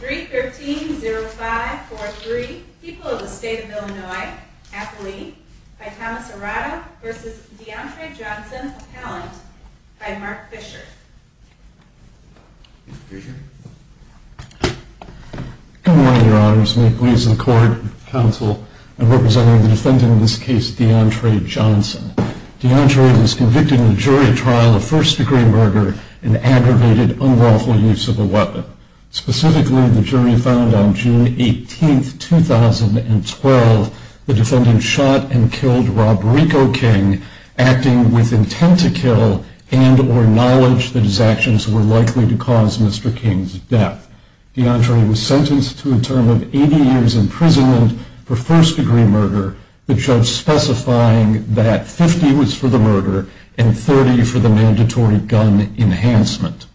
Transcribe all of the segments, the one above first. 3.13.05.43 People of the State of Illinois, Athlete, by Thomas Arado v. Deontre Johnson Appellant, by Mark Fisher Good morning your honors, may it please the court, counsel, and representing the defendant in this case, Deontre Johnson. Deontre was convicted in a jury trial of first degree murder and aggravated unlawful use of a weapon. Specifically, the jury found on June 18, 2012, the defendant shot and killed Rob Rico King, acting with intent to kill and or knowledge that his actions were likely to cause Mr. King's death. Deontre was sentenced to a term of 80 years imprisonment for first degree murder, the judge specifying that 50 was for the murder and 30 for the mandatory gun enhancement.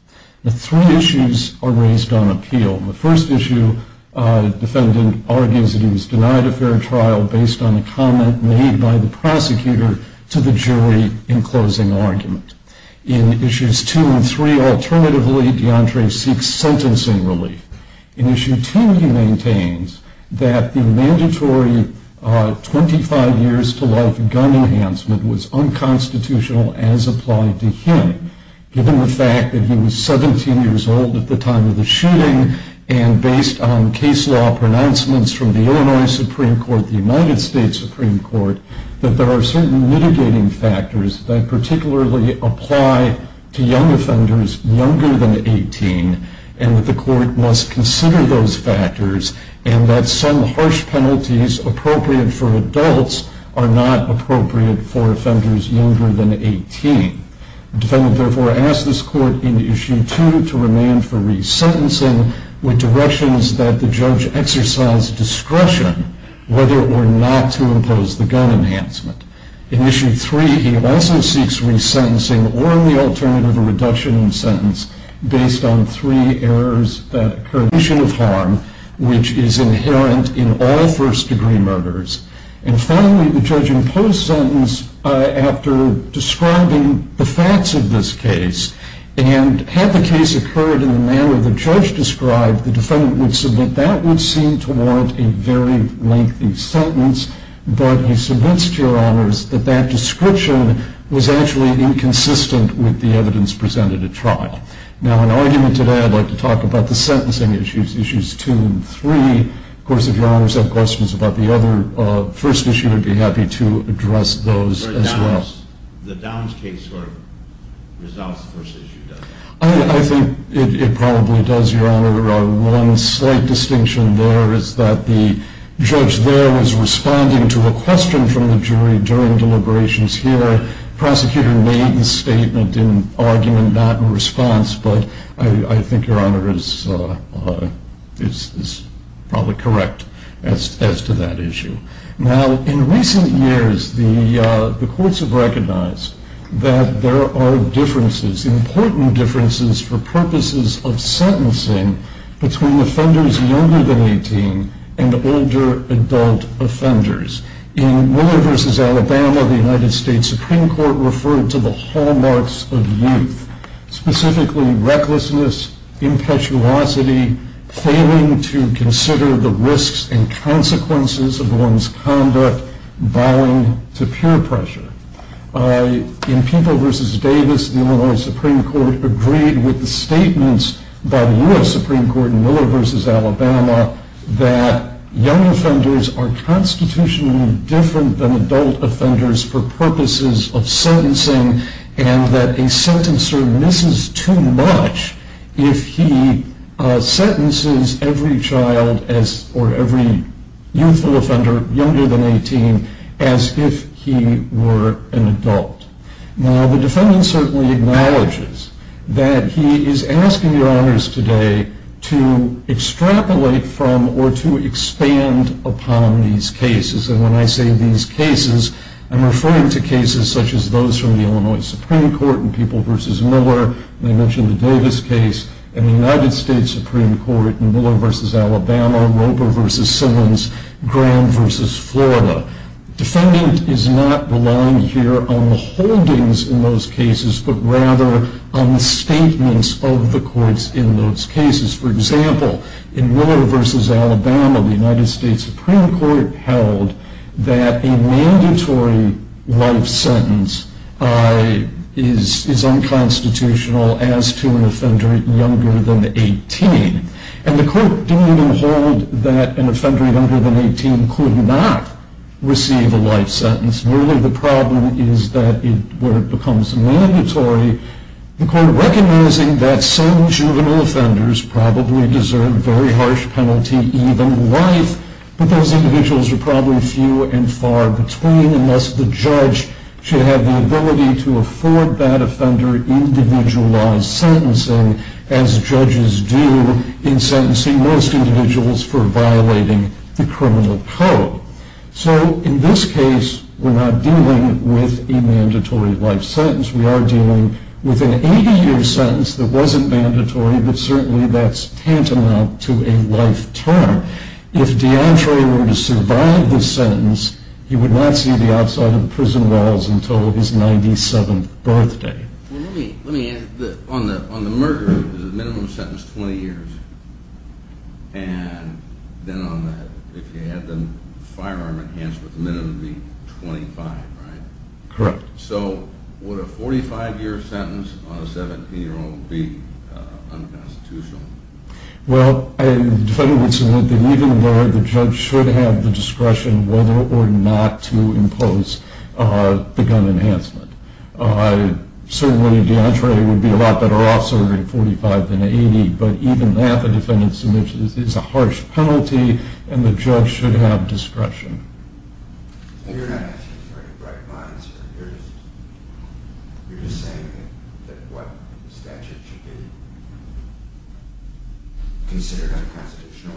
The three issues are raised on appeal. The first issue, the defendant argues that he was denied a fair trial based on a comment made by the prosecutor to the jury in closing argument. In issues two and three, alternatively, Deontre seeks sentencing relief. In issue two, he maintains that the mandatory 25 years to life gun enhancement was unconstitutional as applied to him, given the fact that he was 17 years old at the time of the shooting, and based on case law pronouncements from the Illinois Supreme Court, the United States Supreme Court, that there are certain mitigating factors that particularly apply to young offenders younger than 18, and that the court must consider those factors, and that some harsh penalties appropriate for adults are not appropriate for offenders younger than 18. The defendant therefore asks this court in issue two to remand for resentencing with directions that the judge exercise discretion whether or not to impose the gun enhancement. In issue three, he also seeks resentencing or, in the alternative, a reduction in sentence based on three errors, a condition of harm, which is inherent in all first degree murders. And finally, the judge imposed sentence after describing the facts of this case, and had the case occurred in the manner the judge described, the defendant would submit that would seem to warrant a very lengthy sentence, but he submits to your honors that that description was actually inconsistent with the evidence presented at trial. Now, in argument today, I'd like to talk about the sentencing issues, issues two and three. Of course, if your honors have questions about the other first issue, I'd be happy to address those as well. The Downs case sort of resolves the first issue, doesn't it? I think it probably does, your honor. One slight distinction there is that the judge there was responding to a question from the jury during deliberations here. The prosecutor made the statement in argument, not in response, but I think your honor is probably correct as to that issue. Now, in recent years, the courts have recognized that there are differences, important differences for purposes of sentencing between offenders younger than 18 and older adult offenders. In Miller v. Alabama, the United States Supreme Court referred to the hallmarks of youth, specifically recklessness, impetuosity, failing to consider the risks and consequences of one's conduct, bowing to peer pressure. In Peeble v. Davis, the Illinois Supreme Court agreed with the statements by the U.S. Supreme Court in Miller v. Alabama that young offenders are constitutionally different than adult offenders for purposes of sentencing and that a sentencer misses too much if he sentences every child or every youthful offender younger than 18 as if he were an adult. Now, the defendant certainly acknowledges that he is asking your honors today to extrapolate from or to expand upon these cases. And when I say these cases, I'm referring to cases such as those from the Illinois Supreme Court in Peeble v. Miller, and I mentioned the Davis case, and the United States Supreme Court in Miller v. Alabama, Roper v. Simmons, Graham v. Florida. The defendant is not relying here on the holdings in those cases, but rather on the statements of the courts in those cases. For example, in Miller v. Alabama, the United States Supreme Court held that a mandatory life sentence is unconstitutional as to an offender younger than 18. And the court didn't even hold that an offender younger than 18 could not receive a life sentence. Really, the problem is that where it becomes mandatory, the court recognizing that some juvenile offenders probably deserve very harsh penalty, even life, but those individuals are probably few and far between unless the judge should have the ability to afford that offender individualized sentencing, as judges do in sentencing most individuals for violating the criminal code. So in this case, we're not dealing with a mandatory life sentence. We are dealing with an 80-year sentence that wasn't mandatory, but certainly that's tantamount to a life term. If DeAndre were to survive this sentence, he would not see the outside of the prison walls until his 97th birthday. On the murder, there's a minimum sentence of 20 years. And then on that, if you had the firearm enhancement, the minimum would be 25, right? Correct. So would a 45-year sentence on a 17-year-old be unconstitutional? Well, the defendant would submit that even though the judge should have the discretion whether or not to impose the gun enhancement, certainly DeAndre would be a lot better off serving a 45 than an 80, but even that, the defendant submits, is a harsh penalty, and the judge should have discretion. You're not asking for any bright minds here. You're just saying that what statute should be considered unconstitutional.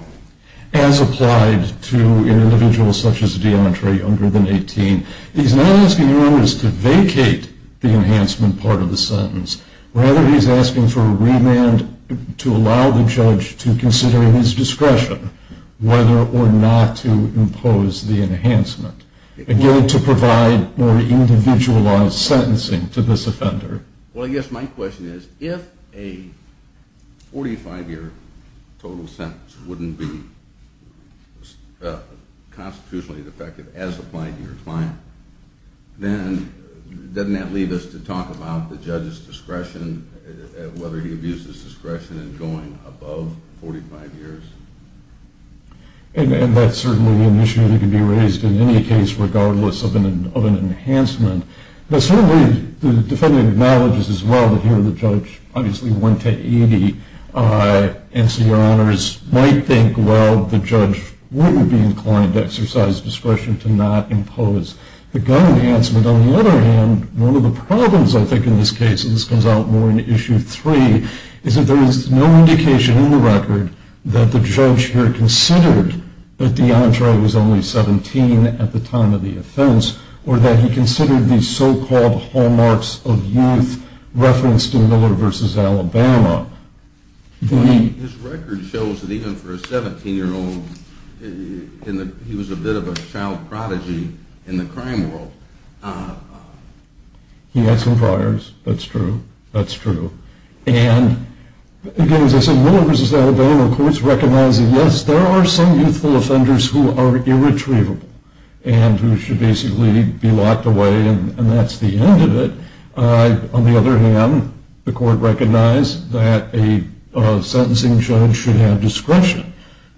As applied to an individual such as DeAndre, younger than 18, he's not asking the owners to vacate the enhancement part of the sentence. Rather, he's asking for a remand to allow the judge to consider his discretion whether or not to impose the enhancement, again, to provide more individualized sentencing to this offender. Well, I guess my question is if a 45-year total sentence wouldn't be constitutionally defective as applied to your client, then doesn't that leave us to talk about the judge's discretion, whether he abuses discretion in going above 45 years? And that's certainly an issue that can be raised in any case regardless of an enhancement. But certainly the defendant acknowledges as well that here the judge, obviously 1 to 80, and so your honors might think, well, the judge wouldn't be inclined to exercise discretion to not impose the gun enhancement. On the other hand, one of the problems I think in this case, and this comes out more in Issue 3, is that there is no indication in the record that the judge here considered that DeAndre was only 17 at the time of the offense or that he considered these so-called hallmarks of youth referenced in Miller v. Alabama. His record shows that even for a 17-year-old, he was a bit of a child prodigy in the crime world. He had some priors. That's true. That's true. And again, as I said, Miller v. Alabama courts recognize that, yes, there are some youthful offenders who are irretrievable and who should basically be locked away, and that's the end of it. On the other hand, the court recognized that a sentencing judge should have discretion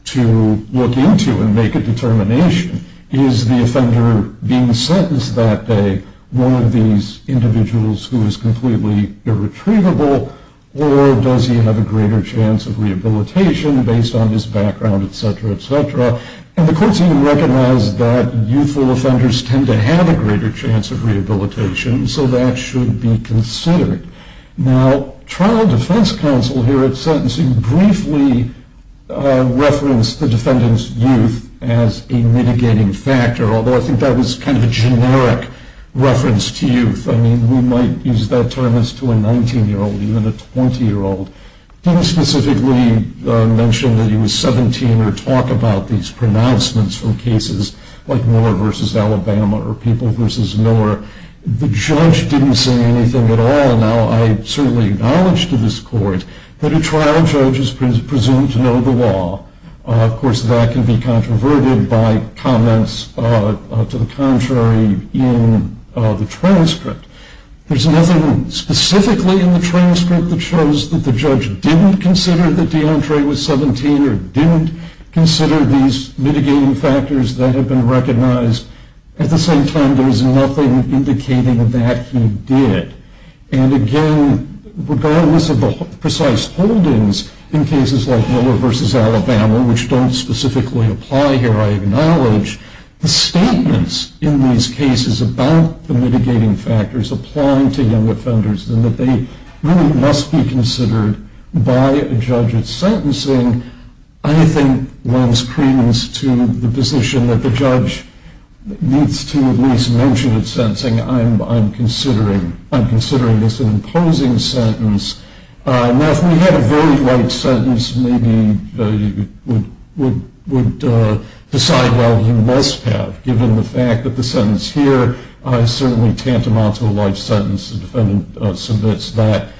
to look into and make a determination. Is the offender being sentenced that day one of these individuals who is completely irretrievable, or does he have a greater chance of rehabilitation based on his background, et cetera, et cetera? And the courts even recognized that youthful offenders tend to have a greater chance of rehabilitation, so that should be considered. Now, trial defense counsel here at sentencing briefly referenced the defendant's youth as a mitigating factor, although I think that was kind of a generic reference to youth. I mean, we might use that term as to a 19-year-old, even a 20-year-old. They didn't specifically mention that he was 17 or talk about these pronouncements from cases like Miller v. Alabama or People v. Miller. The judge didn't say anything at all. Now, I certainly acknowledge to this court that a trial judge is presumed to know the law. Of course, that can be controverted by comments to the contrary in the transcript. There's nothing specifically in the transcript that shows that the judge didn't consider that DeAndre was 17 or didn't consider these mitigating factors that have been recognized. At the same time, there is nothing indicating that he did. And again, regardless of the precise holdings in cases like Miller v. Alabama, which don't specifically apply here, I acknowledge the statements in these cases about the mitigating factors applying to young offenders and that they really must be considered by a judge at sentencing, I think lends credence to the position that the judge needs to at least mention at sentencing, I'm considering this an imposing sentence. Now, if we had a very light sentence, maybe you would decide, well, you must have, given the fact that the sentence here is certainly tantamount to a light sentence. The defendant submits that.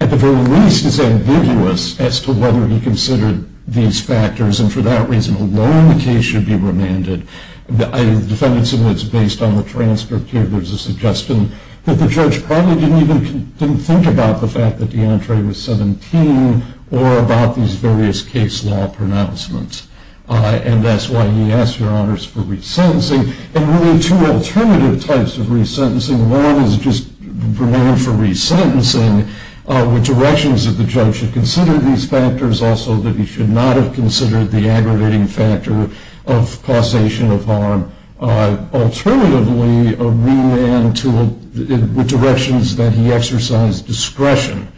At the very least, it's ambiguous as to whether he considered these factors, and for that reason alone, the case should be remanded. The defendant submits, based on the transcript here, there's a suggestion that the judge probably didn't even think about the fact that DeAndre was 17 or about these various case law pronouncements. And that's why he asked, Your Honors, for resentencing. And really, two alternative types of resentencing. One is just remand for resentencing with directions that the judge should consider these factors, also that he should not have considered the aggravating factor of causation of harm. Alternatively, a remand with directions that he exercised discretion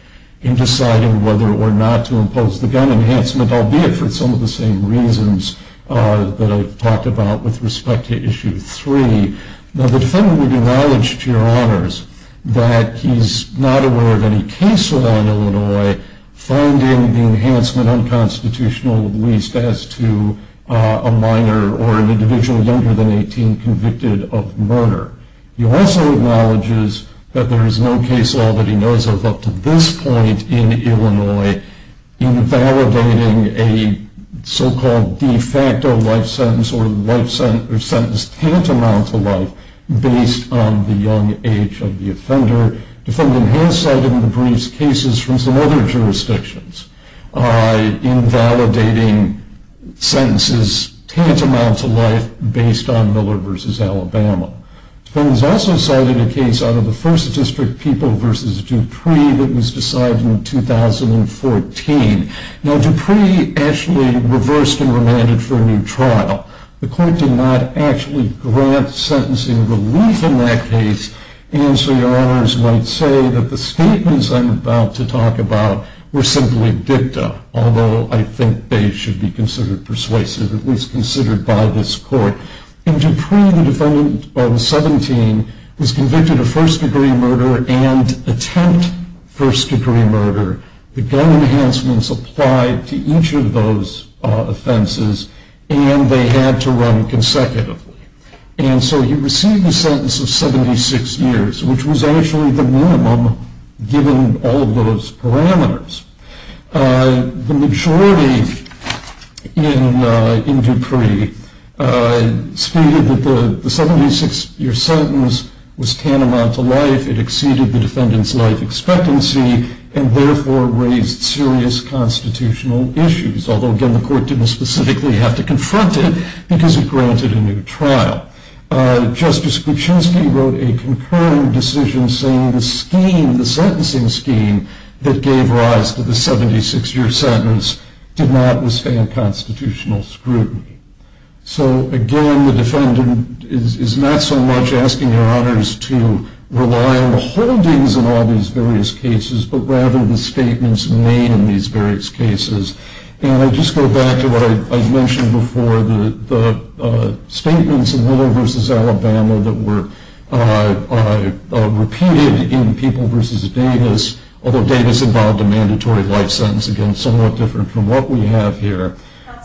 in deciding whether or not to impose the gun enhancement, albeit for some of the same reasons that I've talked about with respect to Issue 3. Now, the defendant would acknowledge, to Your Honors, that he's not aware of any case law in Illinois finding the enhancement unconstitutional, at least as to a minor or an individual younger than 18 convicted of murder. He also acknowledges that there is no case law that he knows of up to this point in Illinois invalidating a so-called de facto life sentence or sentence tantamount to life based on the young age of the offender. The defendant has cited in the briefs cases from some other jurisdictions invalidating sentences tantamount to life based on Miller v. Alabama. The defendant has also cited a case out of the First District People v. Dupree that was decided in 2014. Now, Dupree actually reversed and remanded for a new trial. The court did not actually grant sentencing relief in that case, and so Your Honors might say that the statements I'm about to talk about were simply dicta, although I think they should be considered persuasive, at least considered by this court. In Dupree, the defendant of 17 was convicted of first-degree murder and attempt first-degree murder. The gun enhancements applied to each of those offenses, and they had to run consecutively. And so he received a sentence of 76 years, which was actually the minimum given all of those parameters. The majority in Dupree stated that the 76-year sentence was tantamount to life. It exceeded the defendant's life expectancy and therefore raised serious constitutional issues, although, again, the court didn't specifically have to confront it because it granted a new trial. Justice Kuczynski wrote a concurring decision saying the scheme, the sentencing scheme that gave rise to the 76-year sentence did not withstand constitutional scrutiny. So, again, the defendant is not so much asking Your Honors to rely on the holdings in all these various cases but rather the statements made in these various cases. And I just go back to what I mentioned before, the statements in Willow v. Alabama that were repeated in People v. Davis, although Davis involved a mandatory life sentence, again, somewhat different from what we have here.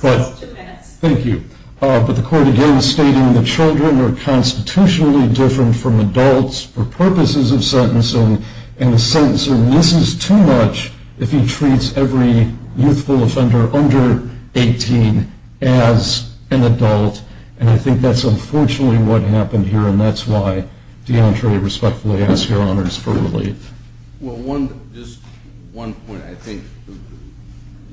Counsel, two minutes. Thank you. But the court, again, is stating the children are constitutionally different from adults for purposes of sentencing, in the sense that this is too much if he treats every youthful offender under 18 as an adult, and I think that's unfortunately what happened here, and that's why, DeAndre, respectfully, I ask Your Honors for relief. Well, just one point. I think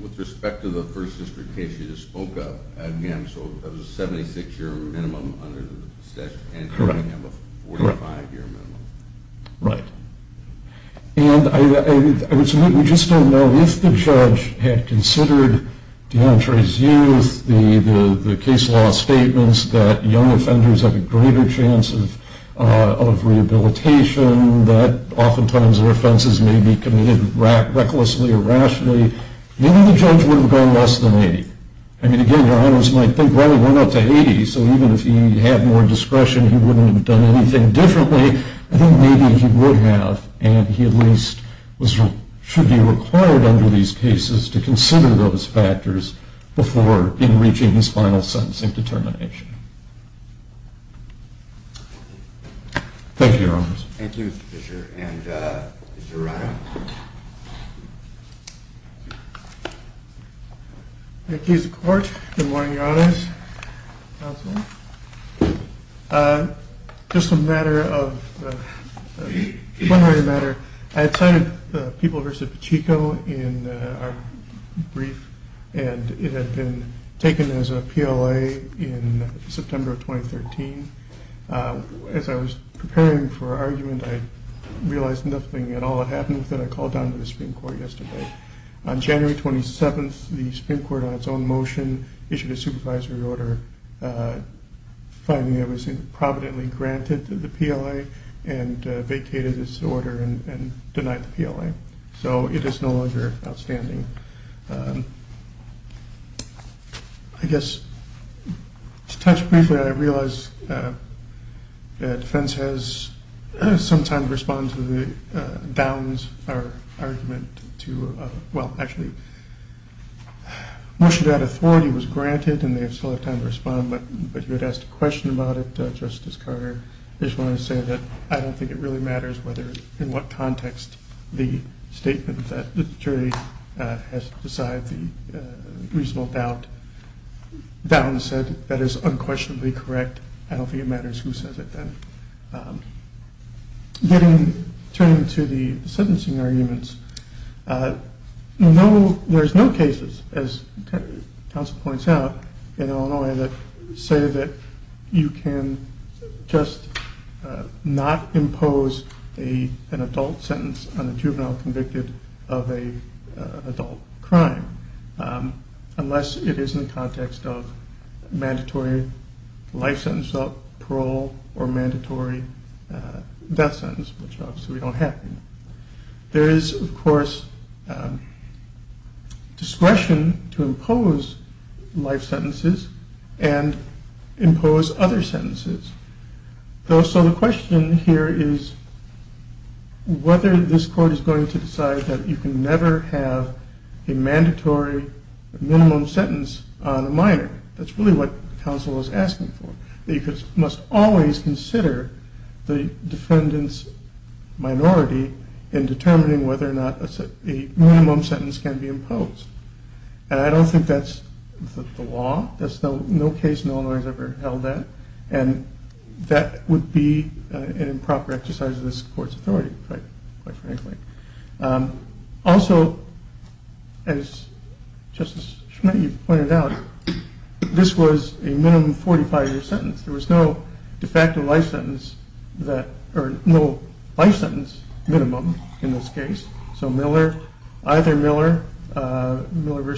with respect to the First District case you just spoke of, again, so that was a 76-year minimum under the statute, and here we have a 45-year minimum. Right. And I would submit we just don't know if the judge had considered DeAndre's youth, the case law statements that young offenders have a greater chance of rehabilitation, that oftentimes their offenses may be committed recklessly or rationally, maybe the judge would have gone less than 80. I mean, again, Your Honors might think, well, we're not to 80, so even if he had more discretion he wouldn't have done anything differently. I think maybe he would have, and he at least should be required under these cases to consider those factors before even reaching his final sentencing determination. Thank you, Your Honors. Thank you, Mr. Fisher. And Mr. Ryan. Thank you, Mr. Court. Good morning, Your Honors. Just a matter of, one other matter. I had cited the People v. Pacheco in our brief, and it had been taken as a PLA in September of 2013. As I was preparing for argument I realized nothing at all had happened with it. I called down to the Supreme Court yesterday. On January 27th the Supreme Court on its own motion issued a supervisory order finding it was providently granted to the PLA and vacated this order and denied the PLA. So it is no longer outstanding. I guess to touch briefly, I realize that defense has some time to respond to the Downs argument. Well, actually, motion to add authority was granted and they still have time to respond, but you had asked a question about it, Justice Carter. I just wanted to say that I don't think it really matters in what context the statement that the jury has decided the reasonable doubt. Downs said that is unquestionably correct. I don't think it matters who says it then. Turning to the sentencing arguments, there's no cases, as counsel points out, in Illinois that say that you can just not impose an adult sentence on a juvenile convicted of an adult crime unless it is in the context of mandatory life sentence, parole, or mandatory death sentence, which obviously we don't have here. There is, of course, discretion to impose life sentences and impose other sentences. So the question here is whether this court is going to decide that you can never have a mandatory minimum sentence on a minor. That's really what counsel is asking for, that you must always consider the defendant's minority in determining whether or not a minimum sentence can be imposed. And I don't think that's the law. No case in Illinois has ever held that, and that would be an improper exercise of this court's authority, quite frankly. Also, as Justice Schmitt pointed out, this was a minimum 45-year sentence. There was no de facto life sentence, or no life sentence minimum in this case. So Miller, either Miller, Miller v.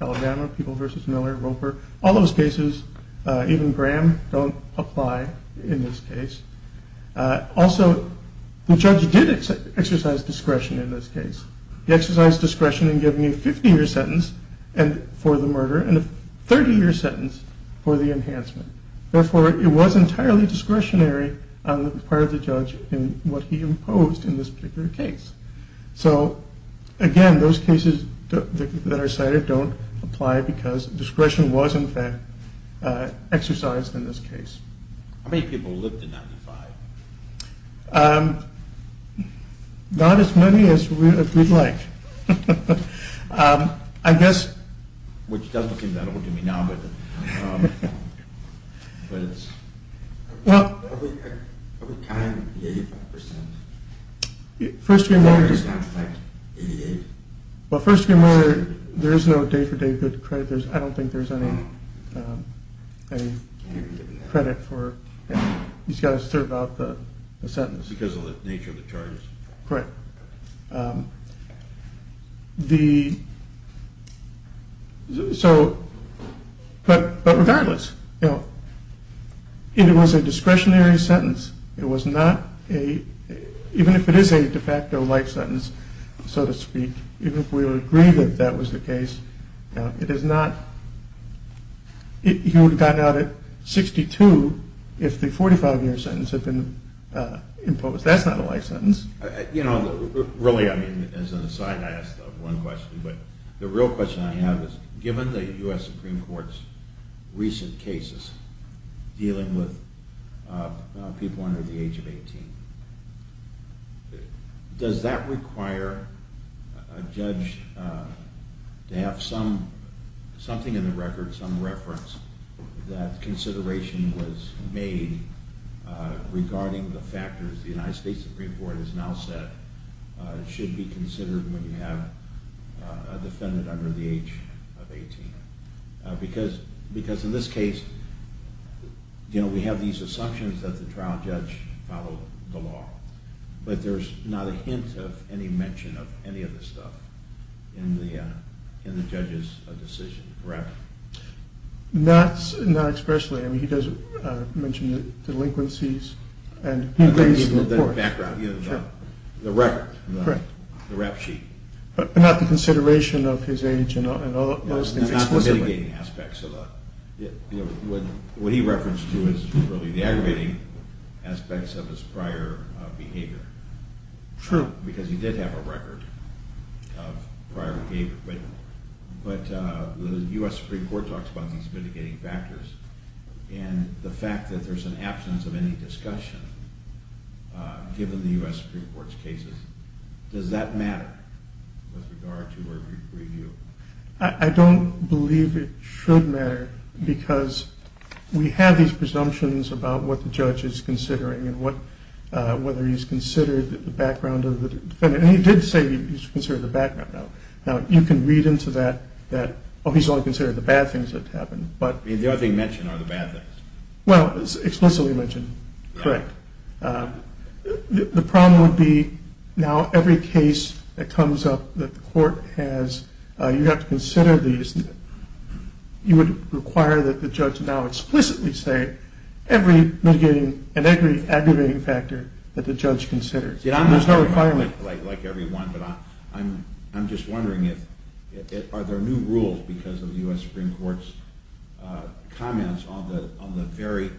Alabama, People v. Miller, Roper, all those cases, even Graham don't apply in this case. Also, the judge did exercise discretion in this case. He exercised discretion in giving a 50-year sentence for the murder and a 30-year sentence for the enhancement. Therefore, it was entirely discretionary on the part of the judge in what he imposed in this particular case. So, again, those cases that are cited don't apply because discretion was, in fact, exercised in this case. How many people lived in 95? Not as many as we'd like. I guess... Which doesn't seem that old to me now, but it's... Well... Are we counting the 85%? First of all... Does that affect 88? Well, first of all, there is no day-for-day good credit. I don't think there's any credit for... He's got to serve out the sentence. Because of the nature of the charges? Correct. The... So... But regardless, you know, it was a discretionary sentence. It was not a... So to speak. Even if we would agree that that was the case, it is not... He would have gotten out at 62 if the 45-year sentence had been imposed. That's not a life sentence. You know, really, I mean, as an aside, I asked one question. But the real question I have is, given the U.S. Supreme Court's recent cases dealing with people under the age of 18, does that require a judge to have something in the record, some reference that consideration was made regarding the factors the United States Supreme Court has now said should be considered when you have a defendant under the age of 18? Because in this case, you know, we have these assumptions that the trial judge followed the law, but there's not a hint of any mention of any of this stuff in the judge's decision, correct? Not expressly. I mean, he does mention the delinquencies, and he agrees with the court. The record. Correct. The rap sheet. But not the consideration of his age and all those things explicitly. Not the mitigating aspects of the... What he referenced was really the aggravating aspects of his prior behavior. True. Because he did have a record of prior behavior. But the U.S. Supreme Court talks about these mitigating factors, and the fact that there's an absence of any discussion given the U.S. Supreme Court's cases, does that matter with regard to review? I don't believe it should matter, because we have these presumptions about what the judge is considering and whether he's considered the background of the defendant. And he did say he's considered the background. Now, you can read into that that, oh, he's only considered the bad things that happened. I mean, the only thing mentioned are the bad things. Well, it's explicitly mentioned. Correct. The problem would be now every case that comes up that the court has, you have to consider these, you would require that the judge now explicitly say every mitigating and every aggravating factor that the judge considers. There's no requirement. Like every one, but I'm just wondering, are there new rules because of the U.S. Supreme Court's comments on the very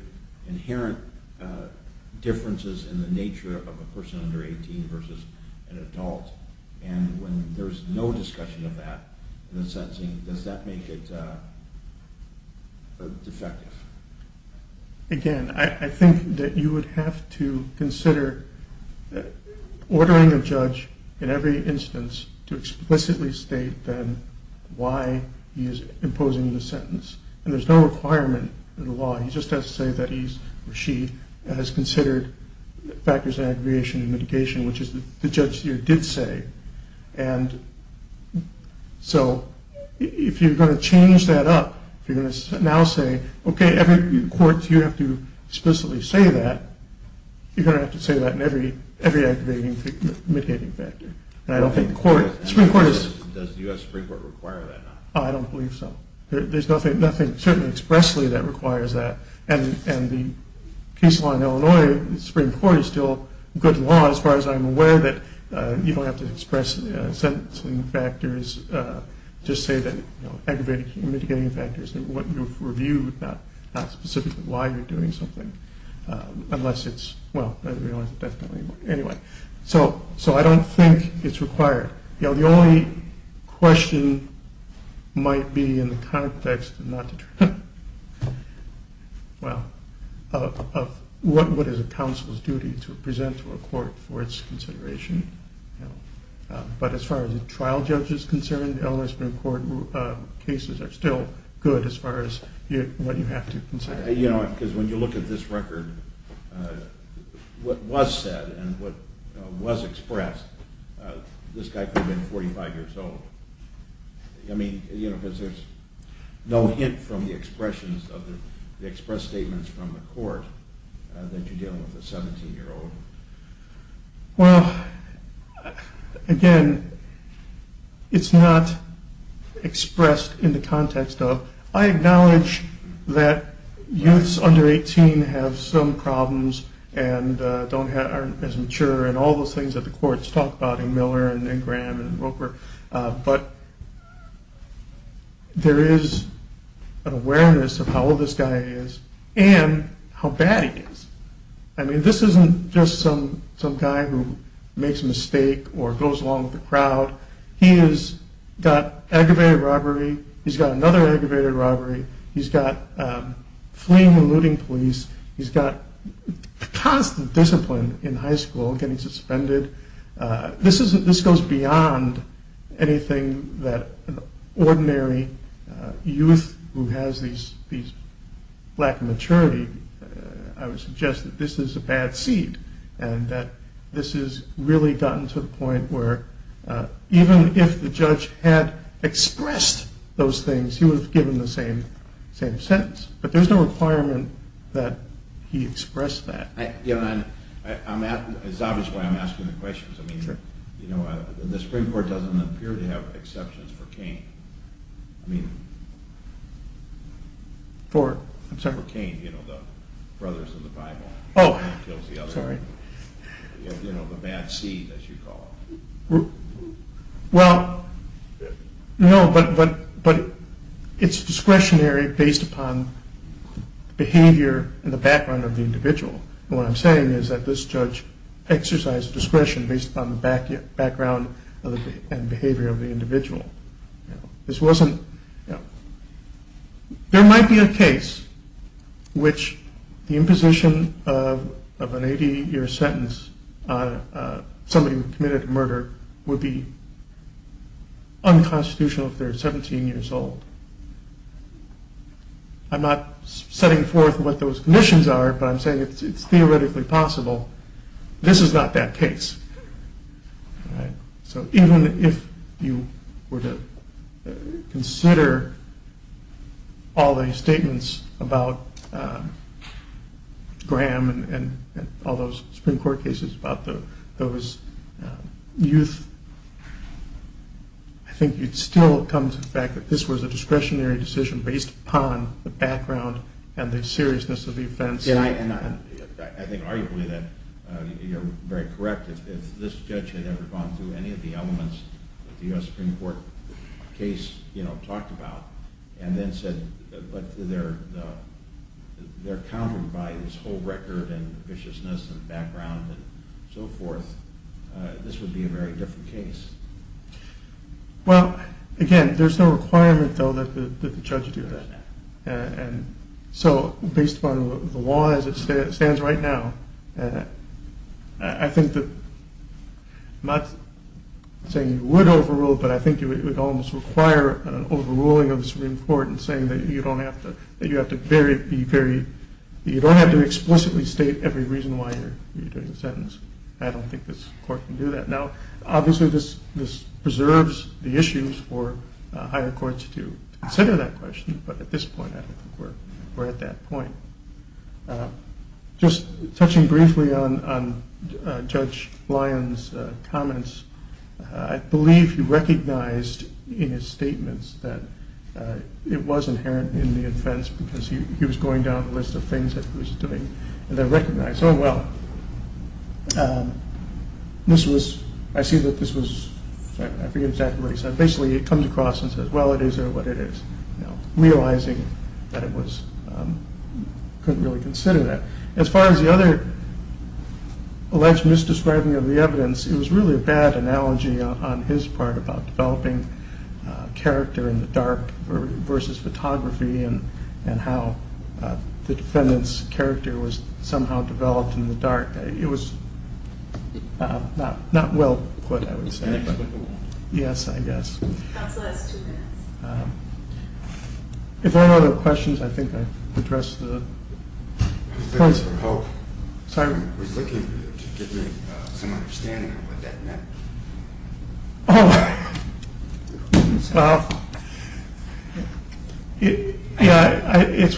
inherent differences in the nature of a person under 18 versus an adult? And when there's no discussion of that in the sentencing, does that make it defective? Again, I think that you would have to consider ordering a judge in every instance to explicitly state then why he is imposing the sentence. And there's no requirement in the law. He just has to say that he or she has considered factors of aggravation and mitigation, which is the judge here did say. And so if you're going to change that up, if you're going to now say, okay, courts, you have to explicitly say that, you're going to have to say that in every aggravating mitigating factor. And I don't think the Supreme Court is – Does the U.S. Supreme Court require that? I don't believe so. There's nothing, certainly expressly, that requires that. And the case law in Illinois, the Supreme Court is still good law, as far as I'm aware, that you don't have to express sentencing factors, just say that aggravating mitigating factors, what you've reviewed, not specifically why you're doing something, unless it's – well, I realize that that's not anymore. Anyway, so I don't think it's required. The only question might be in the context of what is a counsel's duty to present to a court for its consideration. But as far as a trial judge is concerned, Illinois Supreme Court cases are still good as far as what you have to consider. Because when you look at this record, what was said and what was expressed, this guy could have been 45 years old. I mean, because there's no hint from the expressions of the – the expressed statements from the court that you're dealing with a 17-year-old. Well, again, it's not expressed in the context of – I acknowledge that youths under 18 have some problems and don't have – aren't as mature and all those things that the courts talk about in Miller and Graham and Roper. But there is an awareness of how old this guy is and how bad he is. I mean, this isn't just some guy who makes a mistake or goes along with the crowd. He has got aggravated robbery. He's got another aggravated robbery. He's got fleeing and looting police. He's got constant discipline in high school, getting suspended. This isn't – this goes beyond anything that an ordinary youth who has these – these lack of maturity, I would suggest that this is a bad seed and that this has really gotten to the point where even if the judge had expressed those things, he would have given the same sentence. But there's no requirement that he express that. Yeah, and I'm – it's obvious why I'm asking the questions. I mean, you know, the Supreme Court doesn't appear to have exceptions for Cain. I mean – For – I'm sorry? For Cain, you know, the brothers in the Bible. Oh, sorry. You know, the bad seed, as you call it. Well, no, but it's discretionary based upon behavior and the background of the individual. And what I'm saying is that this judge exercised discretion based upon the background and behavior of the individual. This wasn't – there might be a case which the imposition of an 80-year sentence on somebody who committed a murder would be unconstitutional if they're 17 years old. I'm not setting forth what those conditions are, but I'm saying it's theoretically possible. This is not that case. So even if you were to consider all the statements about Graham and all those Supreme Court cases about those youth, I think you'd still come to the fact that this was a discretionary decision based upon the background and the seriousness of the offense. Yeah, and I think arguably that you're very correct. If this judge had ever gone through any of the elements that the U.S. Supreme Court case, you know, talked about and then said, but they're countered by this whole record and viciousness and background and so forth, this would be a very different case. Well, again, there's no requirement, though, that the judge do that. And so based upon the law as it stands right now, I think that I'm not saying you would overrule it, but I think it would almost require an overruling of the Supreme Court in saying that you don't have to explicitly state every reason why you're doing the sentence. I don't think this court can do that. Now, obviously this preserves the issues for higher courts to consider that question, but at this point I don't think we're at that point. Just touching briefly on Judge Lyon's comments, I believe he recognized in his statements that it was inherent in the offense because he was going down the list of things that he was doing and then recognized, oh, well, this was, I see that this was, I forget exactly what he said. Basically he comes across and says, well, it is what it is, realizing that it was, couldn't really consider that. As far as the other alleged misdescribing of the evidence, it was really a bad analogy on his part about developing character in the dark versus photography and how the defendant's character was somehow developed in the dark. It was not well put, I would say. It's inexplicable. Yes, I guess. Counsel, that's two minutes. If there are no other questions, I think I've addressed the points. Mr. Pope, I was looking for you to give me some understanding of what that meant. Oh, well, yeah, it's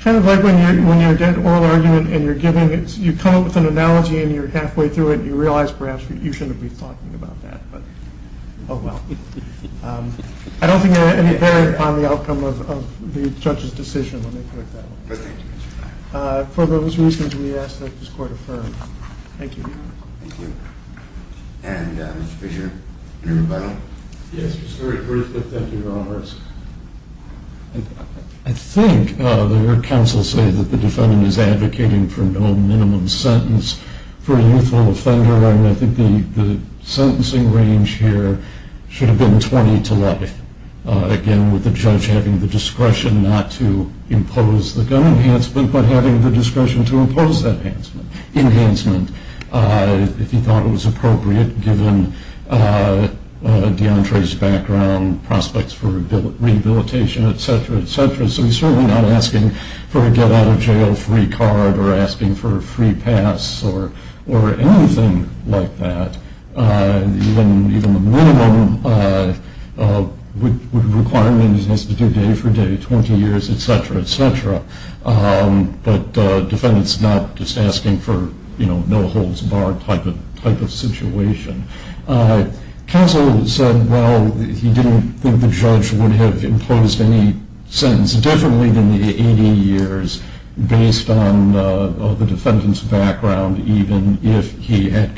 kind of like when you're getting an oral argument and you're giving it, you come up with an analogy and you're halfway through it and you realize perhaps you shouldn't be talking about that, but, oh, well. I don't think it had any bearing on the outcome of the judge's decision. For those reasons, we ask that this court affirm. Thank you. Thank you. And, Mr. Fisher, any rebuttal? Yes, Mr. Stewart. Thank you, Roberts. I think the court counsel says that the defendant is advocating for no minimum sentence for a lethal offender, and I think the sentencing range here should have been 20 to life, again, with the judge having the discretion not to impose the gun enhancement but having the discretion to impose that enhancement if he thought it was appropriate, given DeAndre's background, prospects for rehabilitation, et cetera, et cetera. So he's certainly not asking for a get-out-of-jail-free card or asking for a free pass or anything like that. Even the minimum requirement is to do day for day, 20 years, et cetera, et cetera. But the defendant's not just asking for, you know, no-holds-barred type of situation. Counsel said, well, he didn't think the judge would have imposed any sentence differently than the 80 years based on the defendant's background, even if he had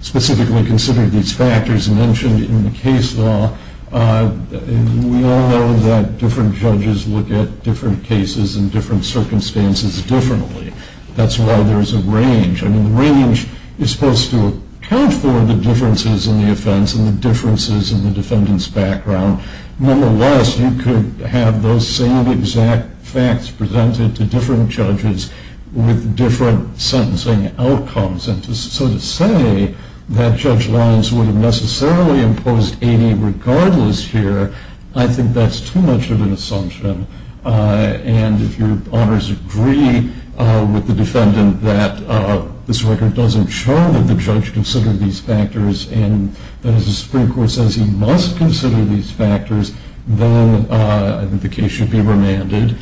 specifically considered these factors mentioned in the case law. We all know that different judges look at different cases and different circumstances differently. That's why there's a range. I mean, the range is supposed to account for the differences in the offense and the differences in the defendant's background. Nonetheless, you could have those same exact facts presented to different judges with different sentencing outcomes. And to sort of say that Judge Lyons would have necessarily imposed 80 regardless here, I think that's too much of an assumption. And if your honors agree with the defendant that this record doesn't show that the judge considered these factors and that, as the Supreme Court says, he must consider these factors, then I think the case should be remanded,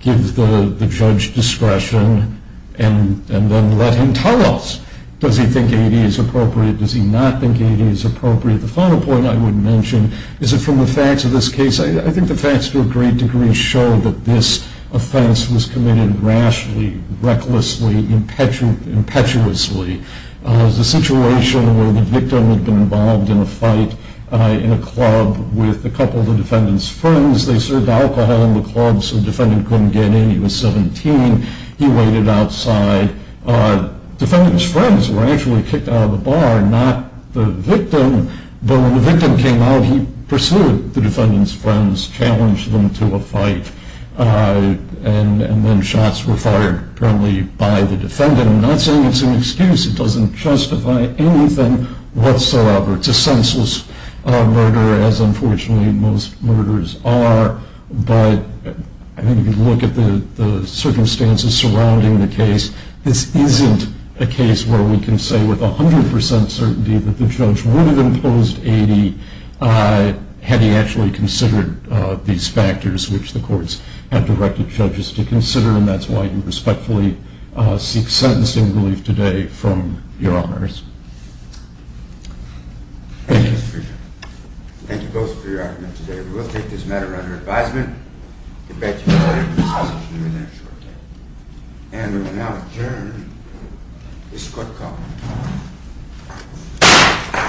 give the judge discretion, and then let him tell us. Does he think 80 is appropriate? Does he not think 80 is appropriate? The final point I would mention is that from the facts of this case, I think the facts to a great degree show that this offense was committed rashly, recklessly, impetuously. It was a situation where the victim had been involved in a fight in a club with a couple of the defendant's friends. They served alcohol in the club, so the defendant couldn't get in. He was 17. He waited outside. The defendant's friends were actually kicked out of the bar, not the victim. But when the victim came out, he pursued the defendant's friends, challenged them to a fight, and then shots were fired, apparently, by the defendant. Again, I'm not saying it's an excuse. It doesn't justify anything whatsoever. It's a senseless murder, as unfortunately most murders are. But I think if you look at the circumstances surrounding the case, this isn't a case where we can say with 100 percent certainty that the judge would have imposed 80 had he actually considered these factors, which the courts have directed judges to consider, and that's why you respectfully seek sentencing relief today from your honors. Thank you. Thank you both for your argument today. We will take this matter under advisement. We beg your pardon. We'll see you in there shortly. And we will now adjourn this court call.